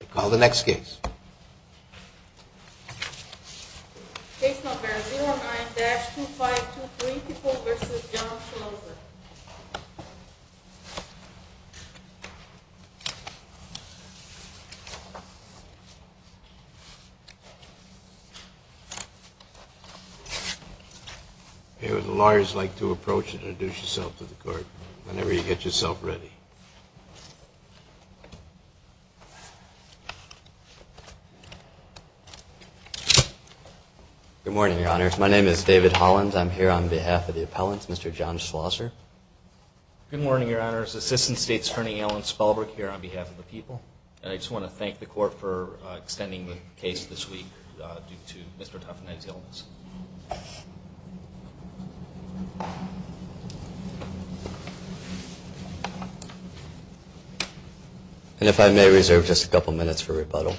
Case number 09-2523, Peoples v. John Schlosser. Good morning, Your Honors. My name is David Hollins. I'm here on behalf of the appellants, Mr. John Schlosser. Good morning, Your Honors. Assistant State's Attorney Alan Spalberg here on behalf of the People. I just want to thank the Court for extending the case this week due to Mr. Tuftenegg's illness. And if I may reserve just a couple of minutes for rebuttal.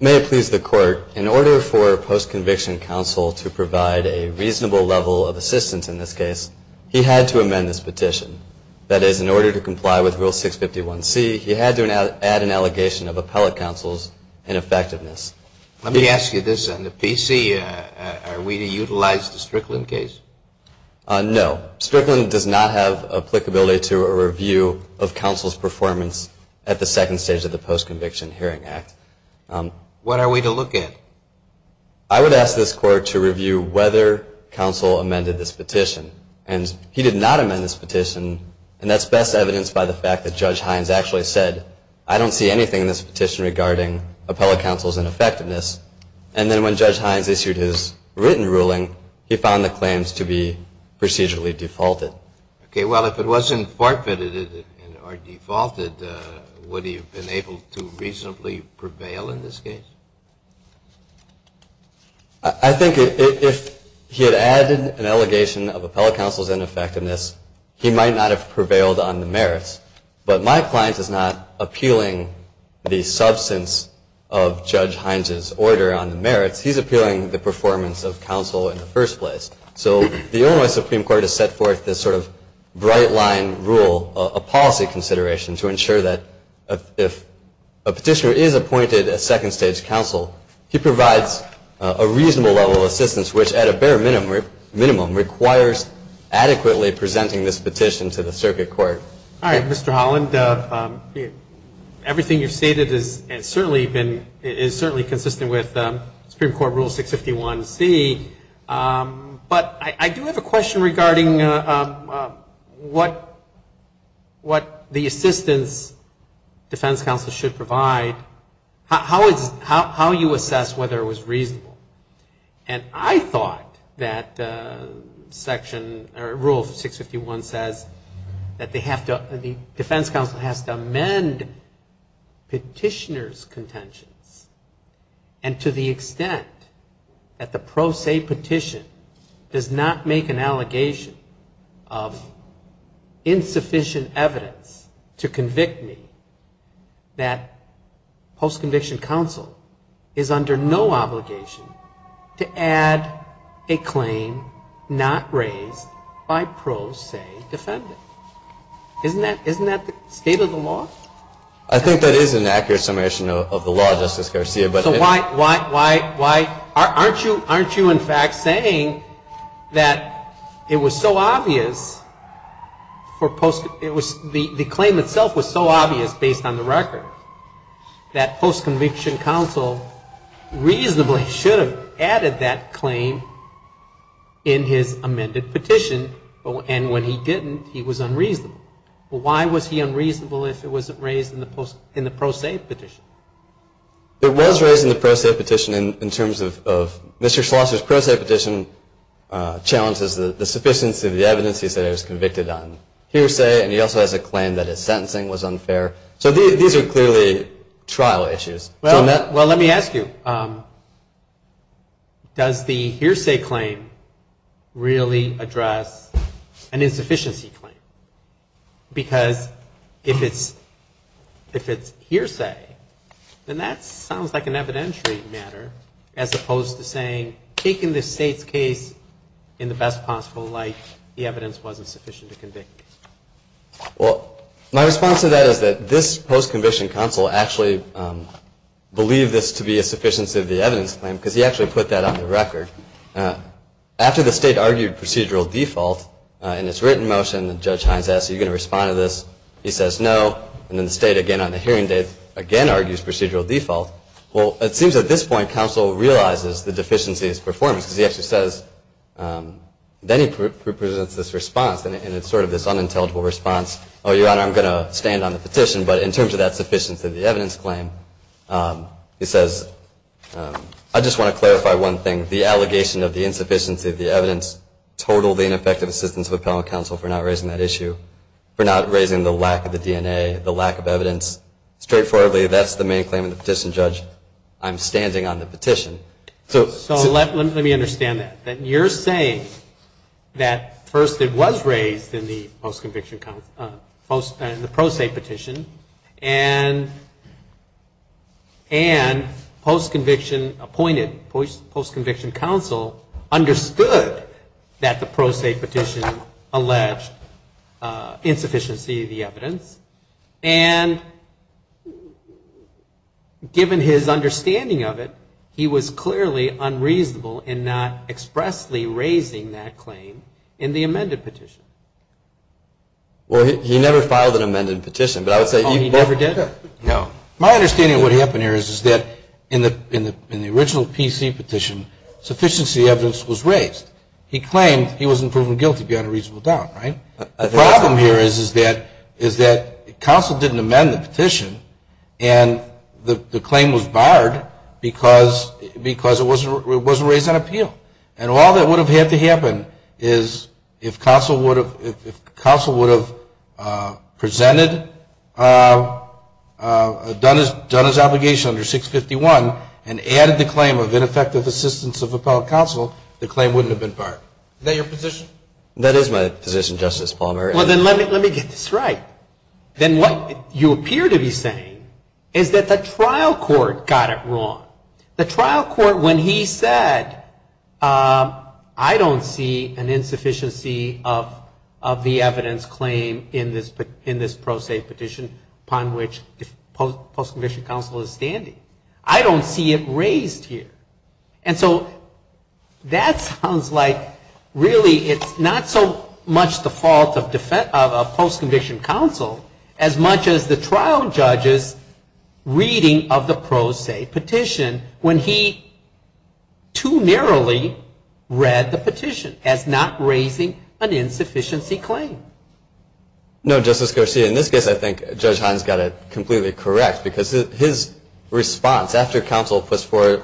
May it please the Court, in order for a post-conviction counsel to provide a reasonable level of assistance in this case, he had to amend this petition. That is, in order to comply with Rule 651C, he had to add an allegation of appellate counsel's ineffectiveness. Let me ask you this. On the PC, are we to utilize the Strickland case? No. Strickland does not have applicability to a review of counsel's performance at the second stage of the Post-Conviction Hearing Act. What are we to look at? I would ask this Court to review whether counsel amended this petition. And he did not amend this petition. And that's best evidenced by the fact that Judge Hines actually said, I don't see anything in this petition regarding appellate counsel's ineffectiveness. And then when Judge Hines issued his written ruling, he found the claims to be procedurally defaulted. Okay. Well, if it wasn't forfeited or defaulted, would he have been able to reasonably prevail in this case? I think if he had added an allegation of appellate counsel's ineffectiveness, he might not have prevailed on the merits. But my client is not appealing the substance of Judge Hines's order on the merits. He's appealing the performance of counsel in the first place. So the Illinois Supreme Court has set forth this sort of bright-line rule, a policy consideration, to ensure that if a petitioner is appointed as second-stage counsel, he provides a reasonable level of assistance which, at a bare minimum, requires adequately presenting this petition to the circuit court. All right. Mr. Holland, everything you've stated is certainly consistent with Supreme Court Rule 651C. But I do have a question regarding what the assistance defense counsel should provide, how you assess whether it was reasonable. And I thought that Section or Rule 651 says that the defense counsel has to amend petitioner's contentions. And to the extent that the pro se petition does not make an allegation of insufficient evidence to convict me, that post-conviction counsel is under no obligation to add a claim not raised by pro se defendants. Isn't that the state of the law? I think that is an accurate summation of the law, Justice Garcia, but it isn't. So why aren't you, in fact, saying that it was so obvious for post-conviction counsel, the claim itself was so obvious based on the record, that post-conviction counsel reasonably should have added that claim in his amended petition. And when he didn't, he was unreasonable. Why was he unreasonable if it wasn't raised in the pro se petition? It was raised in the pro se petition in terms of Mr. Schlosser's pro se petition challenges the sufficiency of the evidence he said I was convicted on hearsay, and he also has a claim that his sentencing was unfair. So these are clearly trial issues. Well, let me ask you, does the hearsay claim really address an insufficiency claim? Because if it's hearsay, then that sounds like an evidentiary matter as opposed to saying, take in the state's case in the best possible light, the evidence wasn't sufficient to convict me. Well, my response to that is that this post-conviction counsel actually believed this to be a sufficiency of the evidence claim, because he actually put that on the record. After the state argued procedural default in its written motion, and Judge Hines asked, are you going to respond to this? He says no. And then the state, again on the hearing date, again argues procedural default. Well, it seems at this point, counsel realizes the deficiency in its performance, because he actually says, then he presents this response. And it's sort of this unintelligible response, oh, your honor, I'm going to stand on the petition. But in terms of that sufficiency of the evidence claim, he says, I just want to clarify one thing. The allegation of the insufficiency of the evidence totaled the ineffective assistance of appellate counsel for not raising that issue, for not raising the lack of the DNA, the lack of evidence. Straightforwardly, that's the main claim of the petition, Judge. I'm standing on the petition. So let me understand that. You're saying that first it was raised in the pro se petition, and post conviction appointed, post conviction counsel understood that the pro se petition alleged insufficiency of the evidence, and given his understanding of it, he was able to raise the claim, but he was clearly unreasonable in not expressly raising that claim in the amended petition. Well, he never filed an amended petition, but I would say... Oh, he never did? No. My understanding of what happened here is that in the original PC petition, sufficiency of the evidence was raised. He claimed he wasn't proven guilty beyond a reasonable doubt, right? The problem here is that counsel didn't amend the petition, and the claim was barred because it wasn't raised on appeal. And all that would have had to happen is if counsel would have presented, done his obligation under 651, and added the claim of ineffective assistance of appellate counsel, the claim wouldn't have been barred. Is that your position? That is my position, Justice Palmer. Well, then let me get this right. Then what you appear to be saying is that the trial court got it wrong. The trial court, when he said, I don't see an insufficiency of the evidence claim in this pro se petition upon which the post-conviction counsel is standing. I don't see it raised here. And so that sounds like really it's not so much the trial judge's reading of the pro se petition when he too narrowly read the petition as not raising an insufficiency claim. No, Justice Garcia. In this case, I think Judge Hines got it completely correct because his response after counsel puts forth,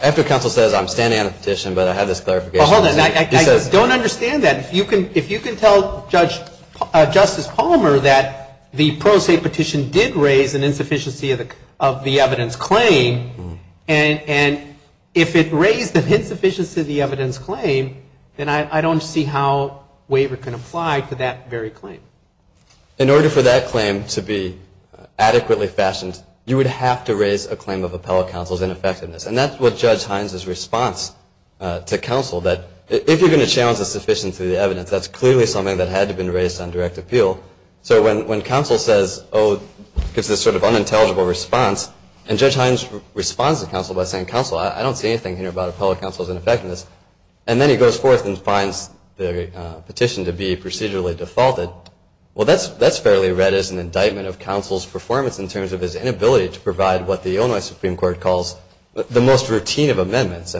after counsel says, I'm standing on a petition, but I have this clarification. Well, hold on. I just don't understand that. If you can tell Justice Palmer that the pro se petition did raise an insufficiency of the evidence claim, and if it raised an insufficiency of the evidence claim, then I don't see how waiver can apply to that very claim. In order for that claim to be adequately fashioned, you would have to raise a claim of appellate counsel's ineffectiveness. And that's what Judge Hines' response to counsel, that if you're going to challenge the insufficiency of the evidence, that's clearly something that had to have been raised on direct appeal. So when counsel says, oh, it's this sort of unintelligible response, and Judge Hines responds to counsel by saying, counsel, I don't see anything here about appellate counsel's ineffectiveness. And then he goes forth and finds the petition to be procedurally defaulted. Well, that's fairly read as an indictment of counsel's performance in terms of his inability to provide what the Illinois Supreme Court calls the most appellate counsel's ineffectiveness.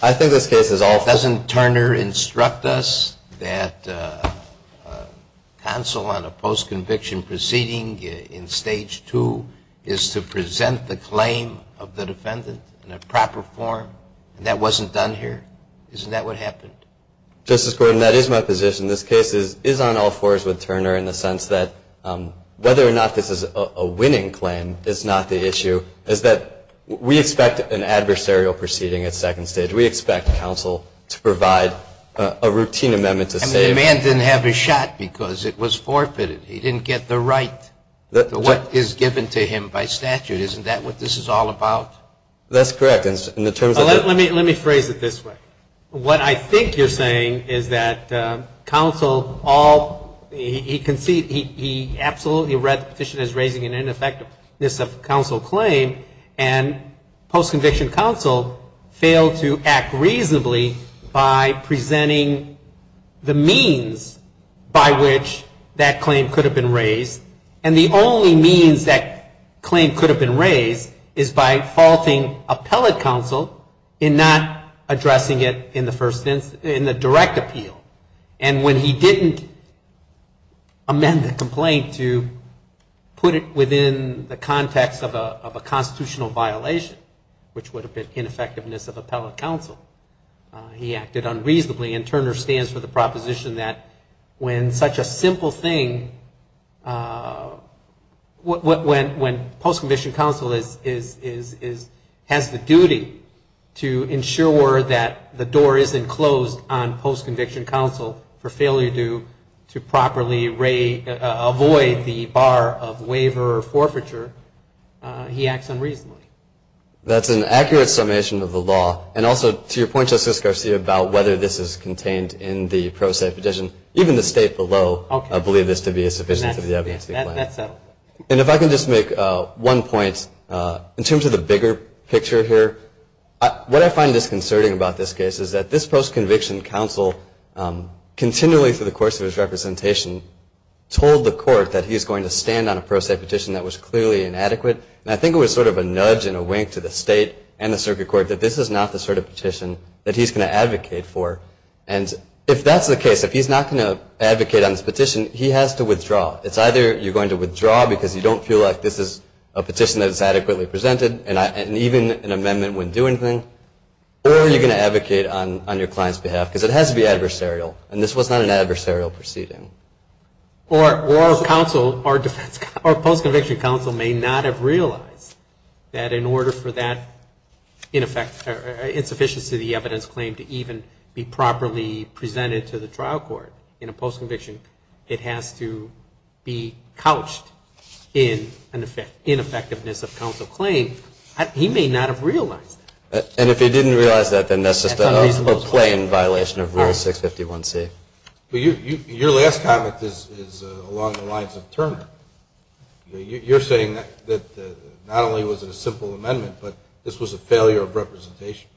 I think this case is awful. Doesn't Turner instruct us that counsel on a post-conviction proceeding in Stage 2 is to present the claim of the defendant in a proper form? And that wasn't done here? Isn't that what happened? Justice Gordon, that is my position. This case is on all fours with Turner in the sense that whether or not counsel provided a routine amendment to say... And the man didn't have his shot because it was forfeited. He didn't get the right to what is given to him by statute. Isn't that what this is all about? That's correct. In terms of... Let me phrase it this way. What I think you're saying is that counsel all, he conceded, he absolutely read the petition as raising an ineffectiveness of counsel claim, and post-conviction counsel failed to act reasonably by presenting the means by which that claim could have been raised. And the only means that claim could have been raised is by faulting appellate counsel in not addressing it in the first instance, in the direct appeal. And when he didn't amend the complaint to put it within the context of a constitutional violation, which would have been ineffectiveness of appellate counsel, he acted unreasonably. And Turner stands for the proposition that when such a simple thing, when post-conviction counsel has the duty to ensure that the door isn't closed on post-conviction counsel for failure to properly avoid the bar of waiver or forfeiture, he acts unreasonably. That's an accurate summation of the law. And also, to your point, Justice Garcia, about whether this is contained in the pro se petition, even the State below believe this to be a sufficient to the evidence. And if I can just make one point, in terms of the bigger picture here, what I find disconcerting about this case is that this post-conviction counsel, continually through the course of his representation, told the court that he's going to stand on a pro se petition that was clearly inadequate. And I think it was sort of a nudge and a wink to the State and the circuit court that this is not the sort of petition that he's going to advocate for. And if that's the case, if he's not going to advocate on this petition, he has to withdraw. It's either you're going to withdraw because you don't feel like this is a good case, or you're going to withdraw on your client's behalf. Because it has to be adversarial. And this was not an adversarial proceeding. Or post-conviction counsel may not have realized that in order for that insufficiency of the evidence claim to even be properly presented to the trial court in a post-conviction, it has to be couched in an ineffectiveness of counsel claim. He may not have realized that. Your last comment is along the lines of Turner. You're saying that not only was it a simple amendment, but this was a failure of representation.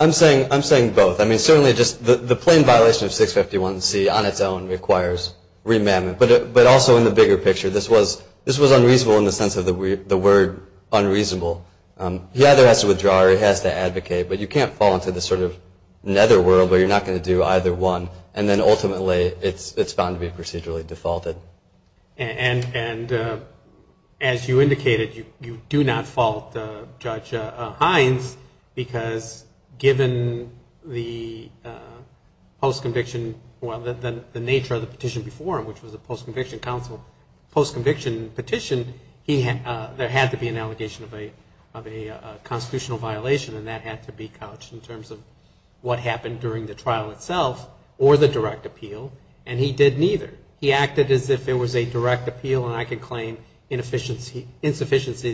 I'm saying both. The plain violation of 651C on its own requires remandment. But also in the bigger picture, this was a failure of representation. The other has to withdraw, or he has to advocate. But you can't fall into this sort of netherworld where you're not going to do either one. And then ultimately, it's found to be procedurally defaulted. And as you indicated, you do not fault Judge Hines because given the post-conviction, well, the nature of the petition before him, which was a post-conviction petition, there had to be an allegation of a misdemeanor. Of a constitutional violation. And that had to be couched in terms of what happened during the trial itself or the direct appeal. And he did neither. He acted as if it was a direct appeal, and I can claim insufficiency of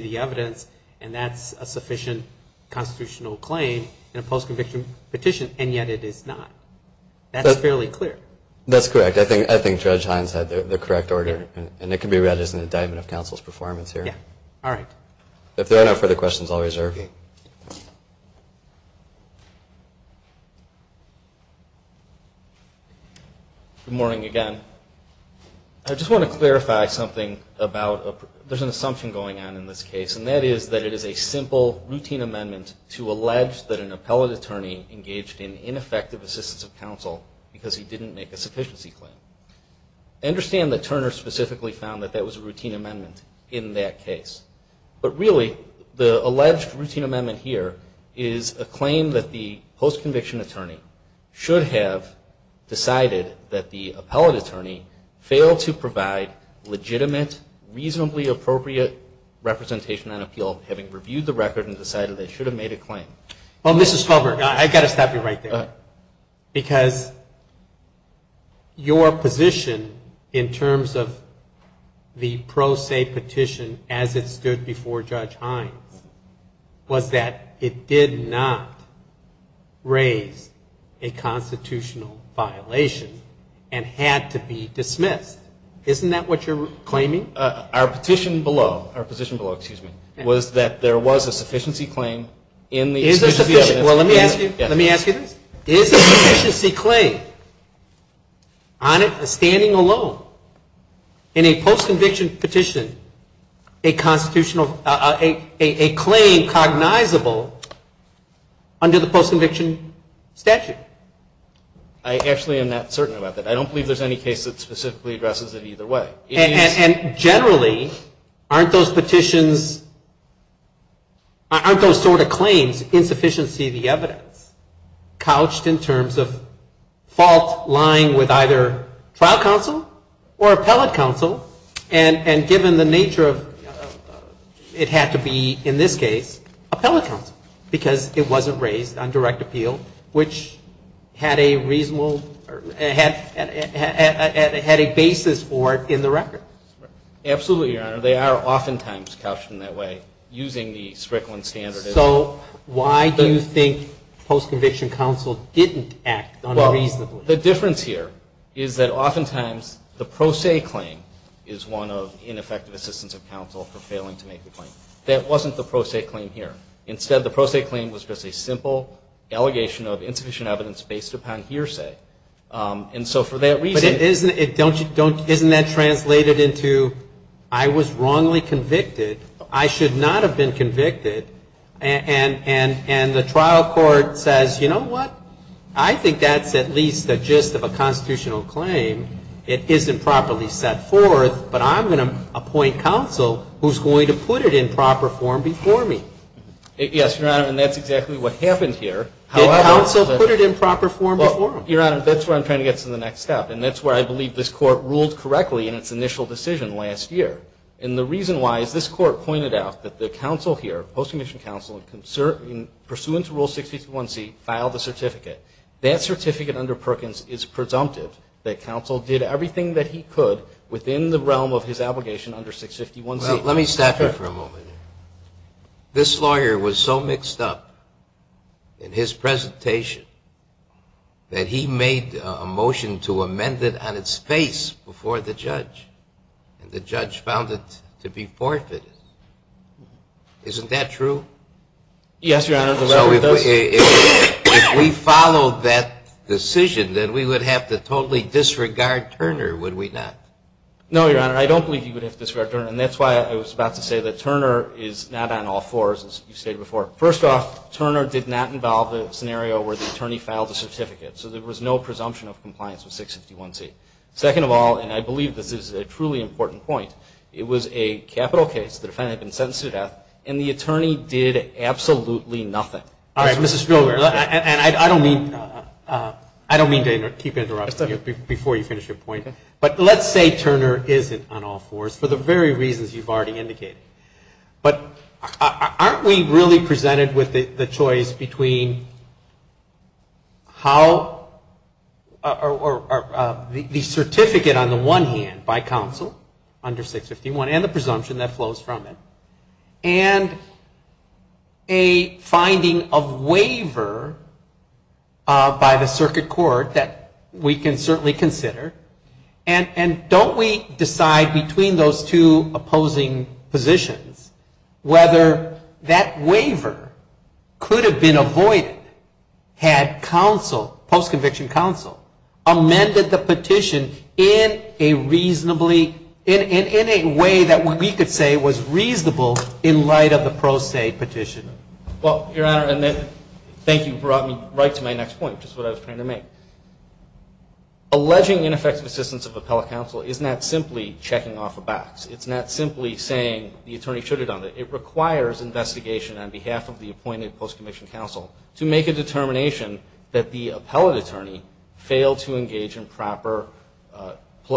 the evidence, and that's a sufficient constitutional claim in a post-conviction petition. And yet it is not. That's fairly clear. That's correct. I think Judge Hines had the correct order. And it can be read as an indictment of counsel's performance here. All right. If there are no further questions, I'll reserve you. Good morning again. I just want to clarify something about, there's an assumption going on in this case, and that is that it is a simple, routine amendment to allege that an appellate attorney engaged in ineffective assistance of counsel because he didn't make a sufficiency claim. I understand that Turner specifically found that that was a routine amendment in that case, but I'm wondering if that's true in this case. But really, the alleged routine amendment here is a claim that the post-conviction attorney should have decided that the appellate attorney failed to provide legitimate, reasonably appropriate representation on appeal, having reviewed the record and decided they should have made a claim. Well, Mr. Stolberg, I've got to stop you right there. Because your position in terms of the pro se petition as it relates to the case, as it stood before Judge Hines, was that it did not raise a constitutional violation and had to be dismissed. Isn't that what you're claiming? Our petition below, our petition below, excuse me, was that there was a sufficiency claim in the constitutional, a claim cognizable under the post-conviction statute? I actually am not certain about that. I don't believe there's any case that specifically addresses it either way. And generally, aren't those petitions, aren't those sort of claims, insufficiency of the evidence, couched in terms of fault lying with either trial counsel or appellate counsel? And given the nature of the case, it had to be, in this case, appellate counsel, because it wasn't raised on direct appeal, which had a reasonable, had a basis for it in the record. Absolutely, Your Honor. They are oftentimes couched in that way, using the Strickland standard. So why do you think post-conviction counsel didn't act unreasonably? The difference here is that oftentimes the pro se claim is one of ineffective assistance of counsel for failing to make the claim. That wasn't the pro se claim here. Instead, the pro se claim was just a simple allegation of insufficient evidence based upon hearsay. And so for that reason But isn't that translated into, I was wrongly convicted, I should not have been convicted, and the trial court says, you know what, I think that's at least a gist of a constitutional claim. It isn't properly set forth, but I'm going to appoint counsel who's going to put it in proper form before me. Yes, Your Honor, and that's exactly what happened here. Did counsel put it in proper form before him? Your Honor, that's where I'm trying to get to the next step, and that's where I believe this Court ruled correctly in its initial decision last year. And the reason why is this Court pointed out that the counsel here, post-conviction counsel, pursuant to Rule 651C, filed a certificate. That certificate under Perkins is presumptive that counsel did everything that he could within the realm of his obligation under 651C. Well, let me stop you for a moment. This lawyer was so mixed up in his presentation that he made a motion to amend it on its face before the judge. And the judge found it to be forfeited. Isn't that true? Yes, Your Honor. So if we followed that decision, then we would have to totally disregard Turner, would we not? No, Your Honor, I don't believe you would have to disregard Turner, and that's why I was about to say that Turner is not on all fours, as you stated before. First off, Turner did not involve a scenario where the attorney filed a certificate, so there was no presumption of compliance with 651C. Second of all, and I believe this is a truly important point, it was a capital case, the defendant had been sentenced to death, and the attorney did absolutely nothing. All right, Mr. Spillware, and I don't mean to keep interrupting you before you finish your point, but let's say Turner isn't on all fours, for the very reasons you've already indicated. But aren't we really presented with the choice between how, or the certificate on the one hand by counsel under 651, and the presumption that flows from it, and a finding of waiver by the circuit court that we can certainly consider, and don't we decide between those two opposing positions? Whether that waiver could have been avoided had counsel, post-conviction counsel, amended the petition in a reasonably, in a way that we could say was reasonable in light of the pro se petition? Well, Your Honor, and thank you for bringing me right to my next point, which is what I was trying to make. Alleging ineffective assistance of appellate attorney, post-conviction counsel, is not simply checking off a box. It's not simply saying the attorney should have done it. It requires investigation on behalf of the appointed post-conviction counsel to make a determination that the appellate attorney failed to engage in proper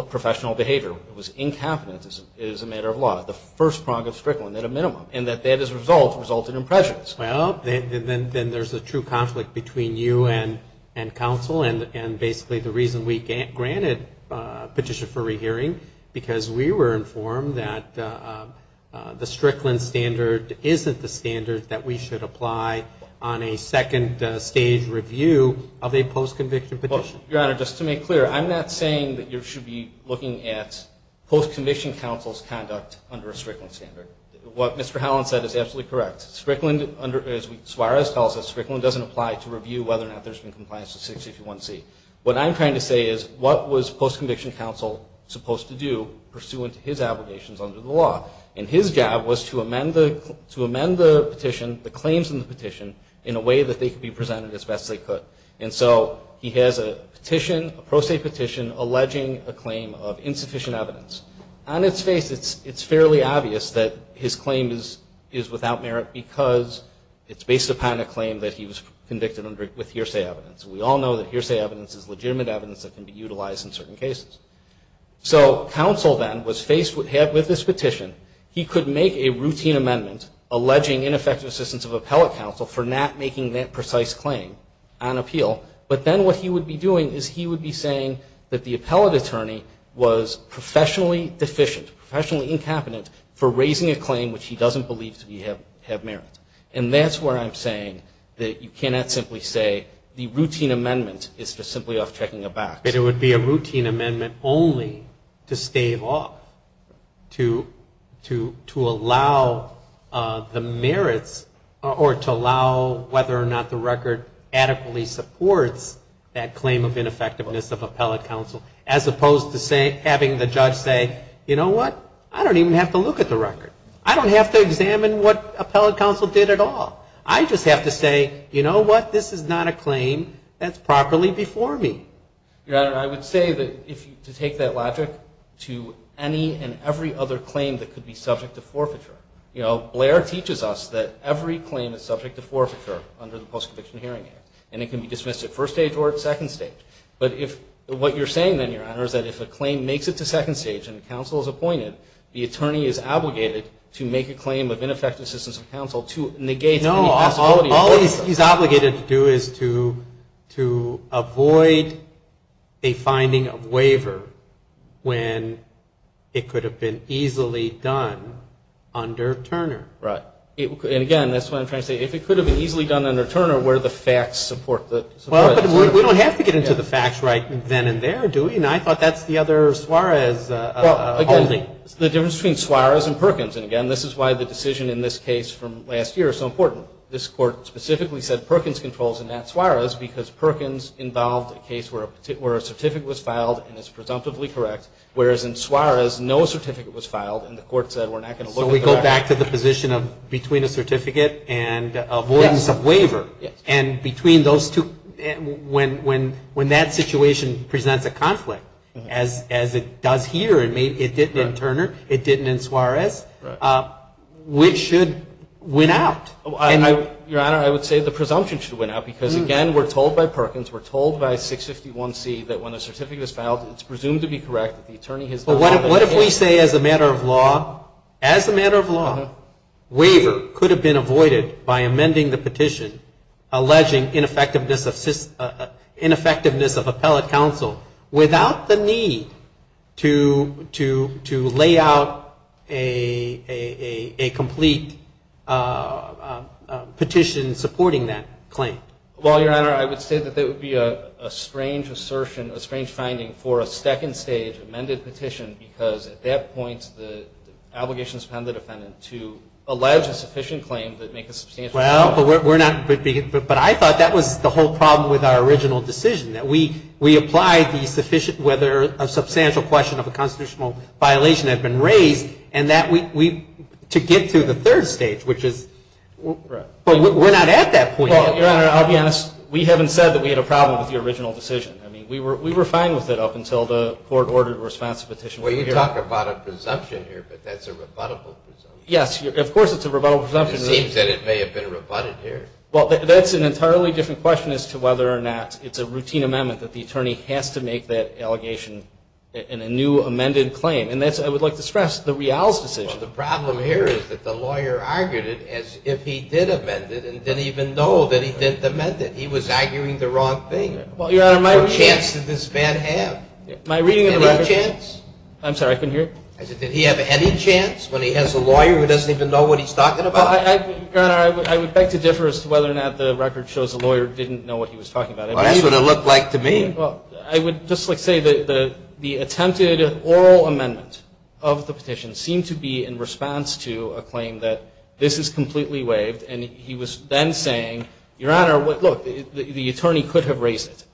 professional behavior. It was incompetence, it is a matter of law, the first prong of strickling at a minimum, and that that as a result resulted in prejudice. Well, then there's a true conflict between you and counsel, and basically the reason we granted a petition for rehearing, because we were informed that the Strickland standard isn't the standard that we should apply on a second stage review of a post-conviction petition. Well, Your Honor, just to make clear, I'm not saying that you should be looking at post-conviction counsel's conduct under a Strickland standard. What Mr. Howland said is absolutely correct. Strickland, as Suarez tells us, Strickland doesn't apply to review whether or not there's been compliance with 681C. What I'm trying to say is, what was post-conviction counsel supposed to do pursuant to his obligations under the law? And his job was to amend the petition, the claims in the petition, in a way that they could be presented as best they could. And so he has a petition, a pro se petition, alleging a claim of insufficient evidence. On its face, it's fairly obvious that his claim is without merit because it's based upon a claim that he was convicted under with hearsay evidence. We all know that hearsay evidence is legitimate evidence that can be utilized in certain cases. So counsel then was faced with this petition. He could make a routine amendment alleging ineffective assistance of appellate counsel for not making that precise claim on appeal. But then what he would be doing is he would be saying that the appellate attorney was professionally deficient, professionally incompetent, for raising a claim which he doesn't believe to have merit. And that's where I'm saying that you cannot simply say the routine amendment is for simply off checking a box. It would be a routine amendment only to stave off, to allow the merits or to allow whether or not the record adequately supports that claim of ineffectiveness of appellate counsel, as opposed to having the judge say, you know what, I don't care. I don't care. I'm going to look at the record. I don't even have to look at the record. I don't have to examine what appellate counsel did at all. I just have to say, you know what, this is not a claim that's properly before me. Your Honor, I would say that if you take that logic to any and every other claim that could be subject to forfeiture. You know, Blair teaches us that every claim is subject to forfeiture under the Post-Conviction Hearing Act. And it can be dismissed at first stage or at second stage. But if what you're saying then, Your Honor, is that if a claim makes it to second stage and a counsel is appointed, be it an attorney, the attorney is obligated to make a claim of ineffective assistance of counsel to negate any possibility of forfeiture. No. All he's obligated to do is to avoid a finding of waiver when it could have been easily done under Turner. Right. And again, that's what I'm trying to say. If it could have been easily done under Turner, where do the facts support that support it? Well, but we don't have to get into the facts right then and there, do we? And I thought that's the other Suarez holding. Well, again, the difference between Suarez and Perkins. And again, this is why the decision in this case from last year is so important. This Court specifically said Perkins controls and not Suarez because Perkins involved a case where a certificate was filed and is presumptively correct, whereas in Suarez no certificate was filed and the Court said we're not going to look at that. So we go back to the position of between a certificate and avoidance of waiver. And between those two, when that situation presents a conflict, as it does here and it didn't in Turner, it didn't in Suarez, which should win out? Your Honor, I would say the presumption should win out because, again, we're told by Perkins, we're told by 651C that when a certificate is filed, it's presumed to be correct. But what if we say as a matter of law, as a matter of law, waiver could have been avoided by amending the petition alleging ineffectiveness of appellate counsel without the need to lay out a complete petition supporting that claim? Well, Your Honor, I would say that that would be a strange assertion, a strange finding for a second stage of amended petition, because at that point the obligation is upon the defendant to allege a sufficient claim to make a substantial claim. Well, but I thought that was the whole problem with our original decision, that we applied the whether a substantial question of a constitutional violation had been raised, and that we, to get to the third stage, which is, we're not at that point yet. Well, Your Honor, I'll be honest. We haven't said that we had a problem with the original decision. I mean, we were fine with it up until the court ordered a response to the petition. Well, you talk about a presumption here, but that's a rebuttable presumption. Yes, of course it's a rebuttable presumption. It seems that it may have been rebutted here. Well, that's an entirely different question as to whether or not it's a routine amendment that the attorney has to make that would be in response to a claim that this is completely waived, and he was then saying, Your Honor, look, the attorney could have asked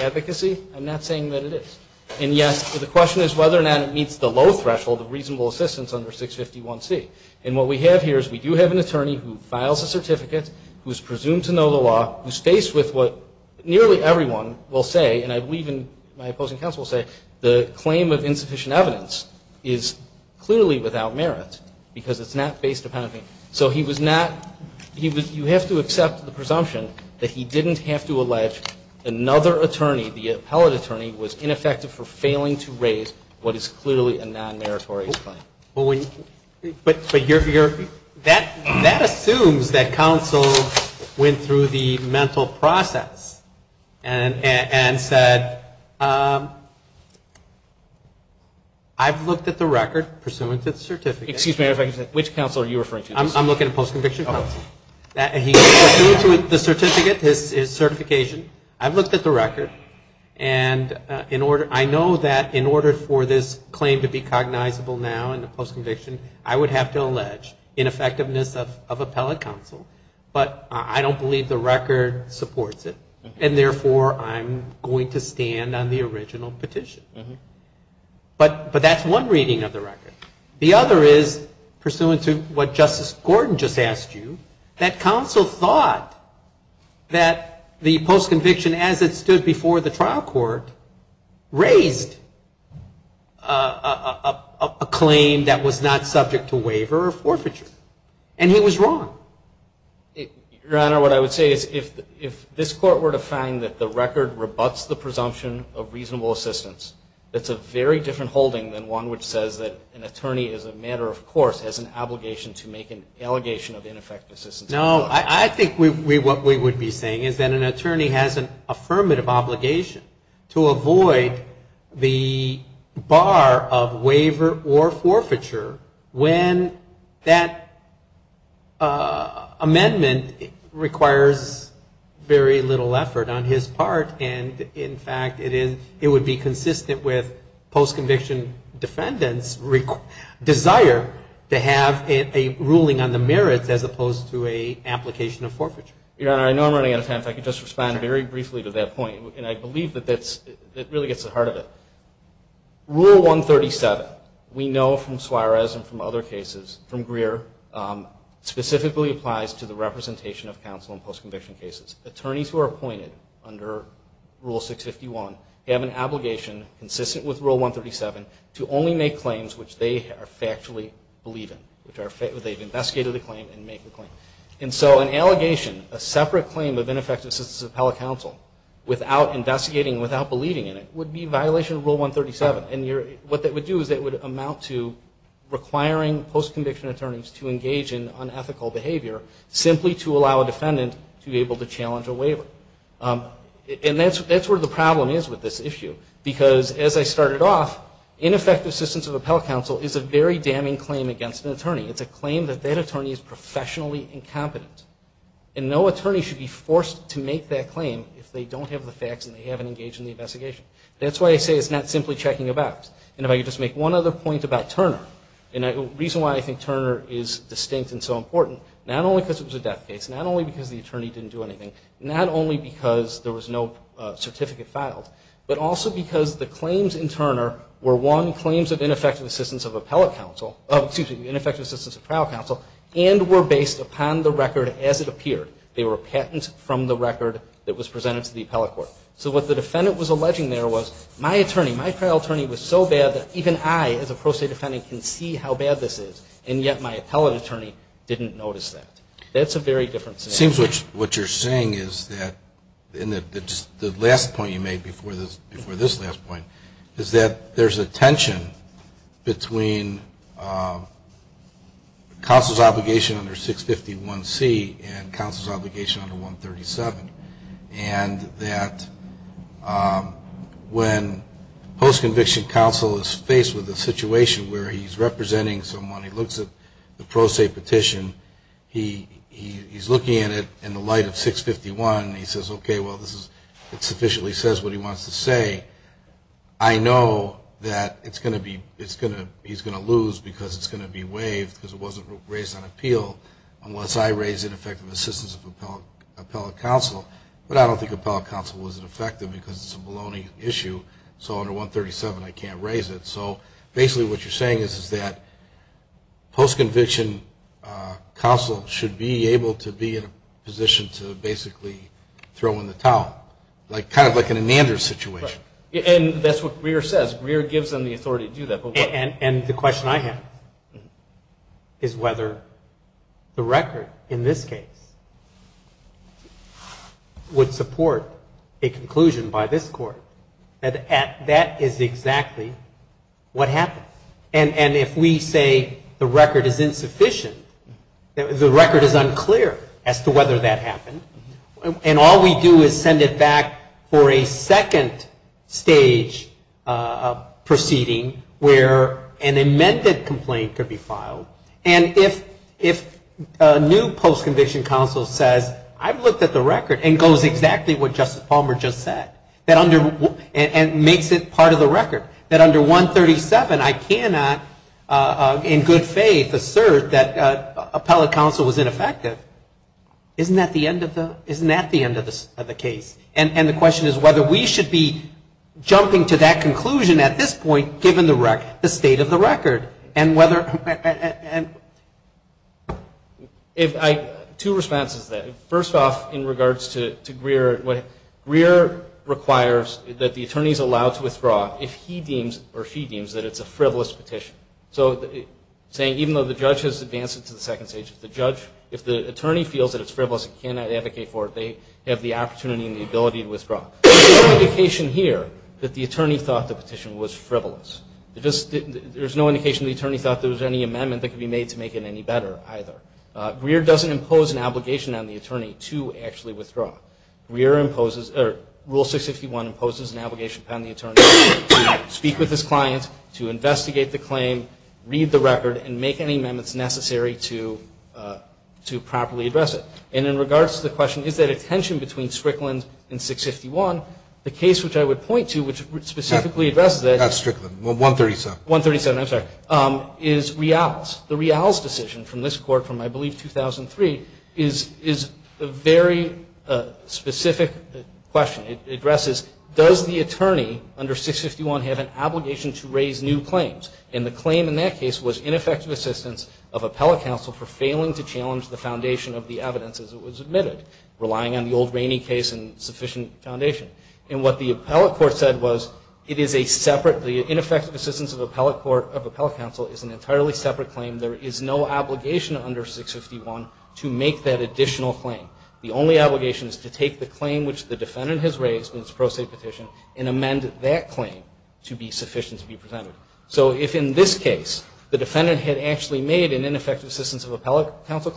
advocacy. I'm not saying that it is. And yes, the question is whether or not it meets the low threshold of reasonable assistance under 651C. And what we have here is we do have an attorney who files a certificate, who is presumed to know the law, who's faced with what nearly everyone will say, and I believe my opposing counsel will say, the claim of insufficient evidence is clearly without merit, because it's not based upon a claim. So he was not, you have to accept the presumption that he didn't have to allege another attorney, the appellate attorney, was ineffective for failing to raise what is clearly a non-meritorious claim. That assumes that counsel went through the mental process and said, I've looked at the record pursuant to the certificate. Excuse me, which counsel are you referring to? I'm looking at post-conviction counsel. He went through the certificate, his certification, I've looked at the record, and I know that in order for this claim to be cognizable now in the post-conviction, I would have to allege ineffectiveness of appellate counsel, but I don't believe the record supports it. And therefore, I'm going to stand on the original petition. But that's one reading of the record. The other is pursuant to what Justice Gordon just asked you, that counsel thought that the post-conviction, as it stood before the trial court, raised a claim that was not subject to waiver or forfeiture, and he was wrong. Your Honor, what I would say is if this Court were to find that the record rebuts the presumption of reasonable assistance, that's a very different holding than one which says that an attorney, as a matter of course, has an obligation to make an allegation of ineffective assistance. No, I think what we would be saying is that an attorney has an affirmative obligation to avoid the bar of waiver or forfeiture when that amendment requires very little effort on his part, and in fact, it would be consistent with the post-conviction defendant's desire to have a ruling on the merits as opposed to an application of forfeiture. Your Honor, I know I'm running out of time, if I could just respond very briefly to that point, and I believe that that really gets to the heart of it. Rule 137, we know from Suarez and from other cases, from Greer, specifically applies to the representation of counsel in post-conviction cases. Attorneys who are appointed under Rule 651 have an obligation consistent with Rule 137 to only make claims which they are factually believe in, which they have investigated the claim and make the claim. And so an allegation, a separate claim of ineffective assistance of appellate counsel without investigating, without believing in it, would be a violation of Rule 137, and what that would do is it would amount to requiring post-conviction attorneys to engage in unethical behavior simply to allow a defendant to be able to challenge a defendant. Because as I started off, ineffective assistance of appellate counsel is a very damning claim against an attorney. It's a claim that that attorney is professionally incompetent. And no attorney should be forced to make that claim if they don't have the facts and they haven't engaged in the investigation. That's why I say it's not simply checking about. And if I could just make one other point about Turner, and the reason why I think Turner is distinct and so important, not only because it was a death case, not only because the attorney didn't do anything, not only because there was no certificate filed, but also because the claims in Turner were, one, claims of ineffective assistance of appellate counsel, excuse me, ineffective assistance of trial counsel, and were based upon the record as it appeared. They were patents from the record that was presented to the appellate court. So what the defendant was alleging there was, my attorney, my trial attorney was so bad that even I, as a pro se defendant, can see how bad this is, and yet my appellate attorney didn't notice that. That's a very different scenario. My other point, and this is the last point, is that there's a tension between counsel's obligation under 651C and counsel's obligation under 137. And that when post-conviction counsel is faced with a situation where he's representing someone, he looks at the pro se petition, he's looking at it in the light of 651, and he says, okay, well, this is, it sufficiently says what he wants to say. I know that it's going to be, it's going to, he's going to lose because it's going to be waived because it wasn't raised on appeal unless I raise ineffective assistance of appellate counsel. But I don't think appellate counsel was ineffective because it's a baloney issue. So under 137, I can't raise it. So basically what you're saying is that post-conviction counsel should be able to be in a position to basically throw in the towel. Like kind of like an Andrews situation. And that's what Greer says. Greer gives them the authority to do that. And the question I have is whether the record in this case would support a conclusion by this Court. That is exactly what happens. And if we say the record is insufficient, the record is unclear as to whether that happened. And all we do is send it back for a second stage proceeding where an amended complaint could be filed. And if a new post-conviction counsel says, I've looked at the record and it goes exactly what Justice Palmer just said. And makes it part of the record. That under 137, I cannot in good faith assert that appellate counsel was ineffective. Isn't that the end of the case? And the question is whether we should be jumping to that conclusion at this point given the state of the record. And whether and if I, two responses to that. First off in regards to Greer, Greer requires that the attorney is allowed to withdraw if he deems or she deems that it's a frivolous petition. So saying even though the judge has advanced it to the court, there's no indication here that the attorney thought the petition was frivolous. There's no indication the attorney thought there was any amendment that could be made to make it any better either. Greer doesn't impose an obligation on the attorney to actually withdraw. Greer imposes, or Rule 651 imposes an obligation upon the attorney to speak with his client, to investigate the claim, read the record and make any amendments necessary to properly address it. And in regards to the tension between Strickland and 651, the case which I would point to, which specifically addresses that. That's Strickland, 137. 137, I'm sorry, is Rial's. The Rial's decision from this court from I believe 2003 is a very specific question. It addresses does the attorney under 651 have an obligation to raise new claims? And the claim in that case was ineffective assistance of appellate counsel for failing to challenge the foundation of the evidence as it was admitted, relying on the old Rainey case and sufficient foundation. And what the appellate court said was it is a separate, the ineffective assistance of appellate counsel is an entirely separate claim. There is no obligation under 651 to make that additional claim. The only obligation is to take the claim which the defendant has raised in its pro se petition and amend that claim to be sufficient to be presented. So if in this case the defendant had actually made an ineffective assistance of appellate counsel,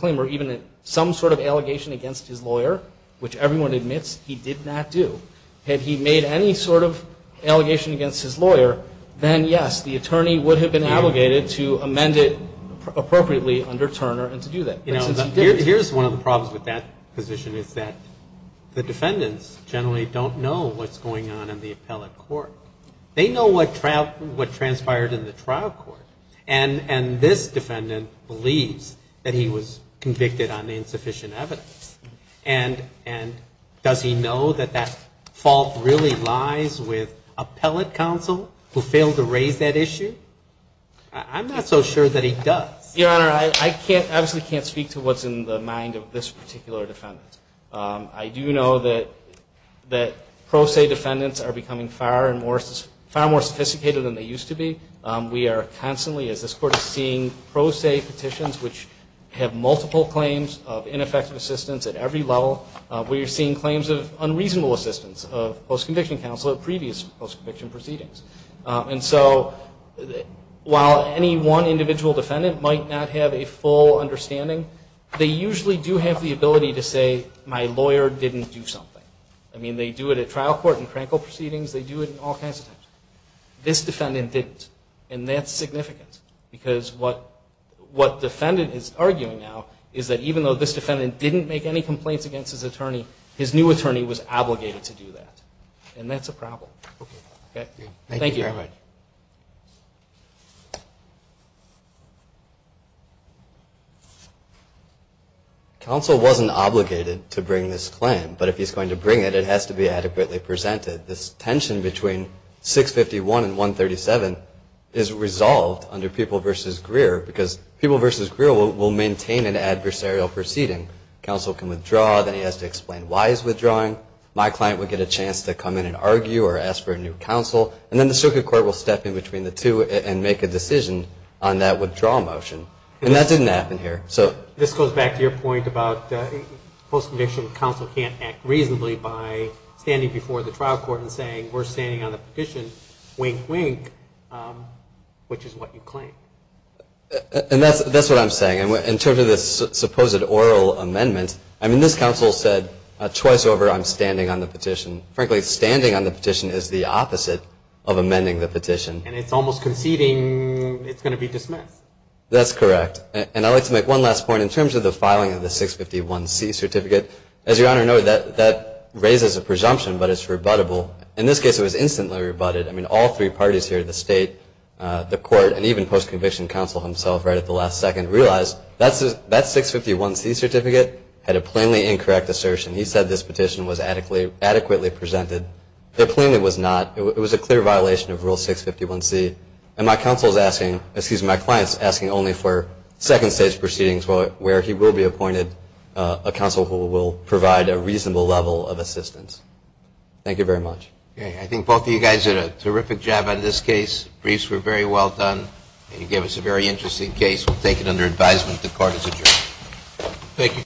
which everyone admits he did not do, had he made any sort of allegation against his lawyer, then, yes, the attorney would have been obligated to amend it appropriately under Turner and to do that. Here's one of the problems with that position, is that the defendants generally don't know what's going on in the appellate court. They know what transpired in the trial court. And this defendant believes that he was convicted on insufficient evidence. And does he know that that fault really lies with appellate counsel who failed to raise that issue? I'm not so sure that he does. Your Honor, I absolutely can't speak to what's in the mind of this particular defendant. I do know that pro se defendants are becoming far more sophisticated than they used to be. We are constantly, as this Court is seeing, pro se petitions which have multiple claims of ineffective assistance at every level. We are seeing claims of unreasonable assistance of post-conviction counsel at previous post-conviction proceedings. And so while any one individual defendant might not have a full understanding, they usually do have the ability to say, my lawyer didn't do something. I mean, they do it at trial court and crankle proceedings. They do it in all kinds of things. This defendant didn't. And that's significant. Because what defendant is arguing now is that even though this defendant didn't make any complaints against his attorney, his new attorney was obligated to do that. And that's a problem. Counsel wasn't obligated to bring this claim. But if he's going to bring it, it has to be adequately presented. This is resolved under People v. Greer. Because People v. Greer will maintain an adversarial proceeding. Counsel can withdraw. Then he has to explain why he's withdrawing. My client would get a chance to come in and argue or ask for a new counsel. And then the circuit court will step in between the two and make a decision on that withdrawal motion. And that didn't happen here. This goes back to your point about post-conviction counsel can't act reasonably by standing before the trial court and saying, we're standing on the petition, wink, wink, which is what you claim. And that's what I'm saying. In terms of the supposed oral amendment, I mean, this counsel said twice over, I'm standing on the petition. Frankly, standing on the petition is the opposite of amending the petition. And it's almost conceding it's going to be dismissed. That's correct. And I'd like to make one last point. In terms of the filing of the 651C certificate, as Your Honor noted, that raises a presumption, but it's rebuttable. In this case, it was instantly rebutted. I mean, all three parties here, the state, the court, and even post-conviction counsel himself right at the last second realized that 651C certificate had a plainly incorrect assertion. He said this petition was adequately presented. It plainly was not. It was a clear violation of Rule 651C. And my counsel is asking, excuse me, my client is asking only for second stage proceedings where he will be appointed a counsel who will provide a reasonable level of assistance. Thank you very much.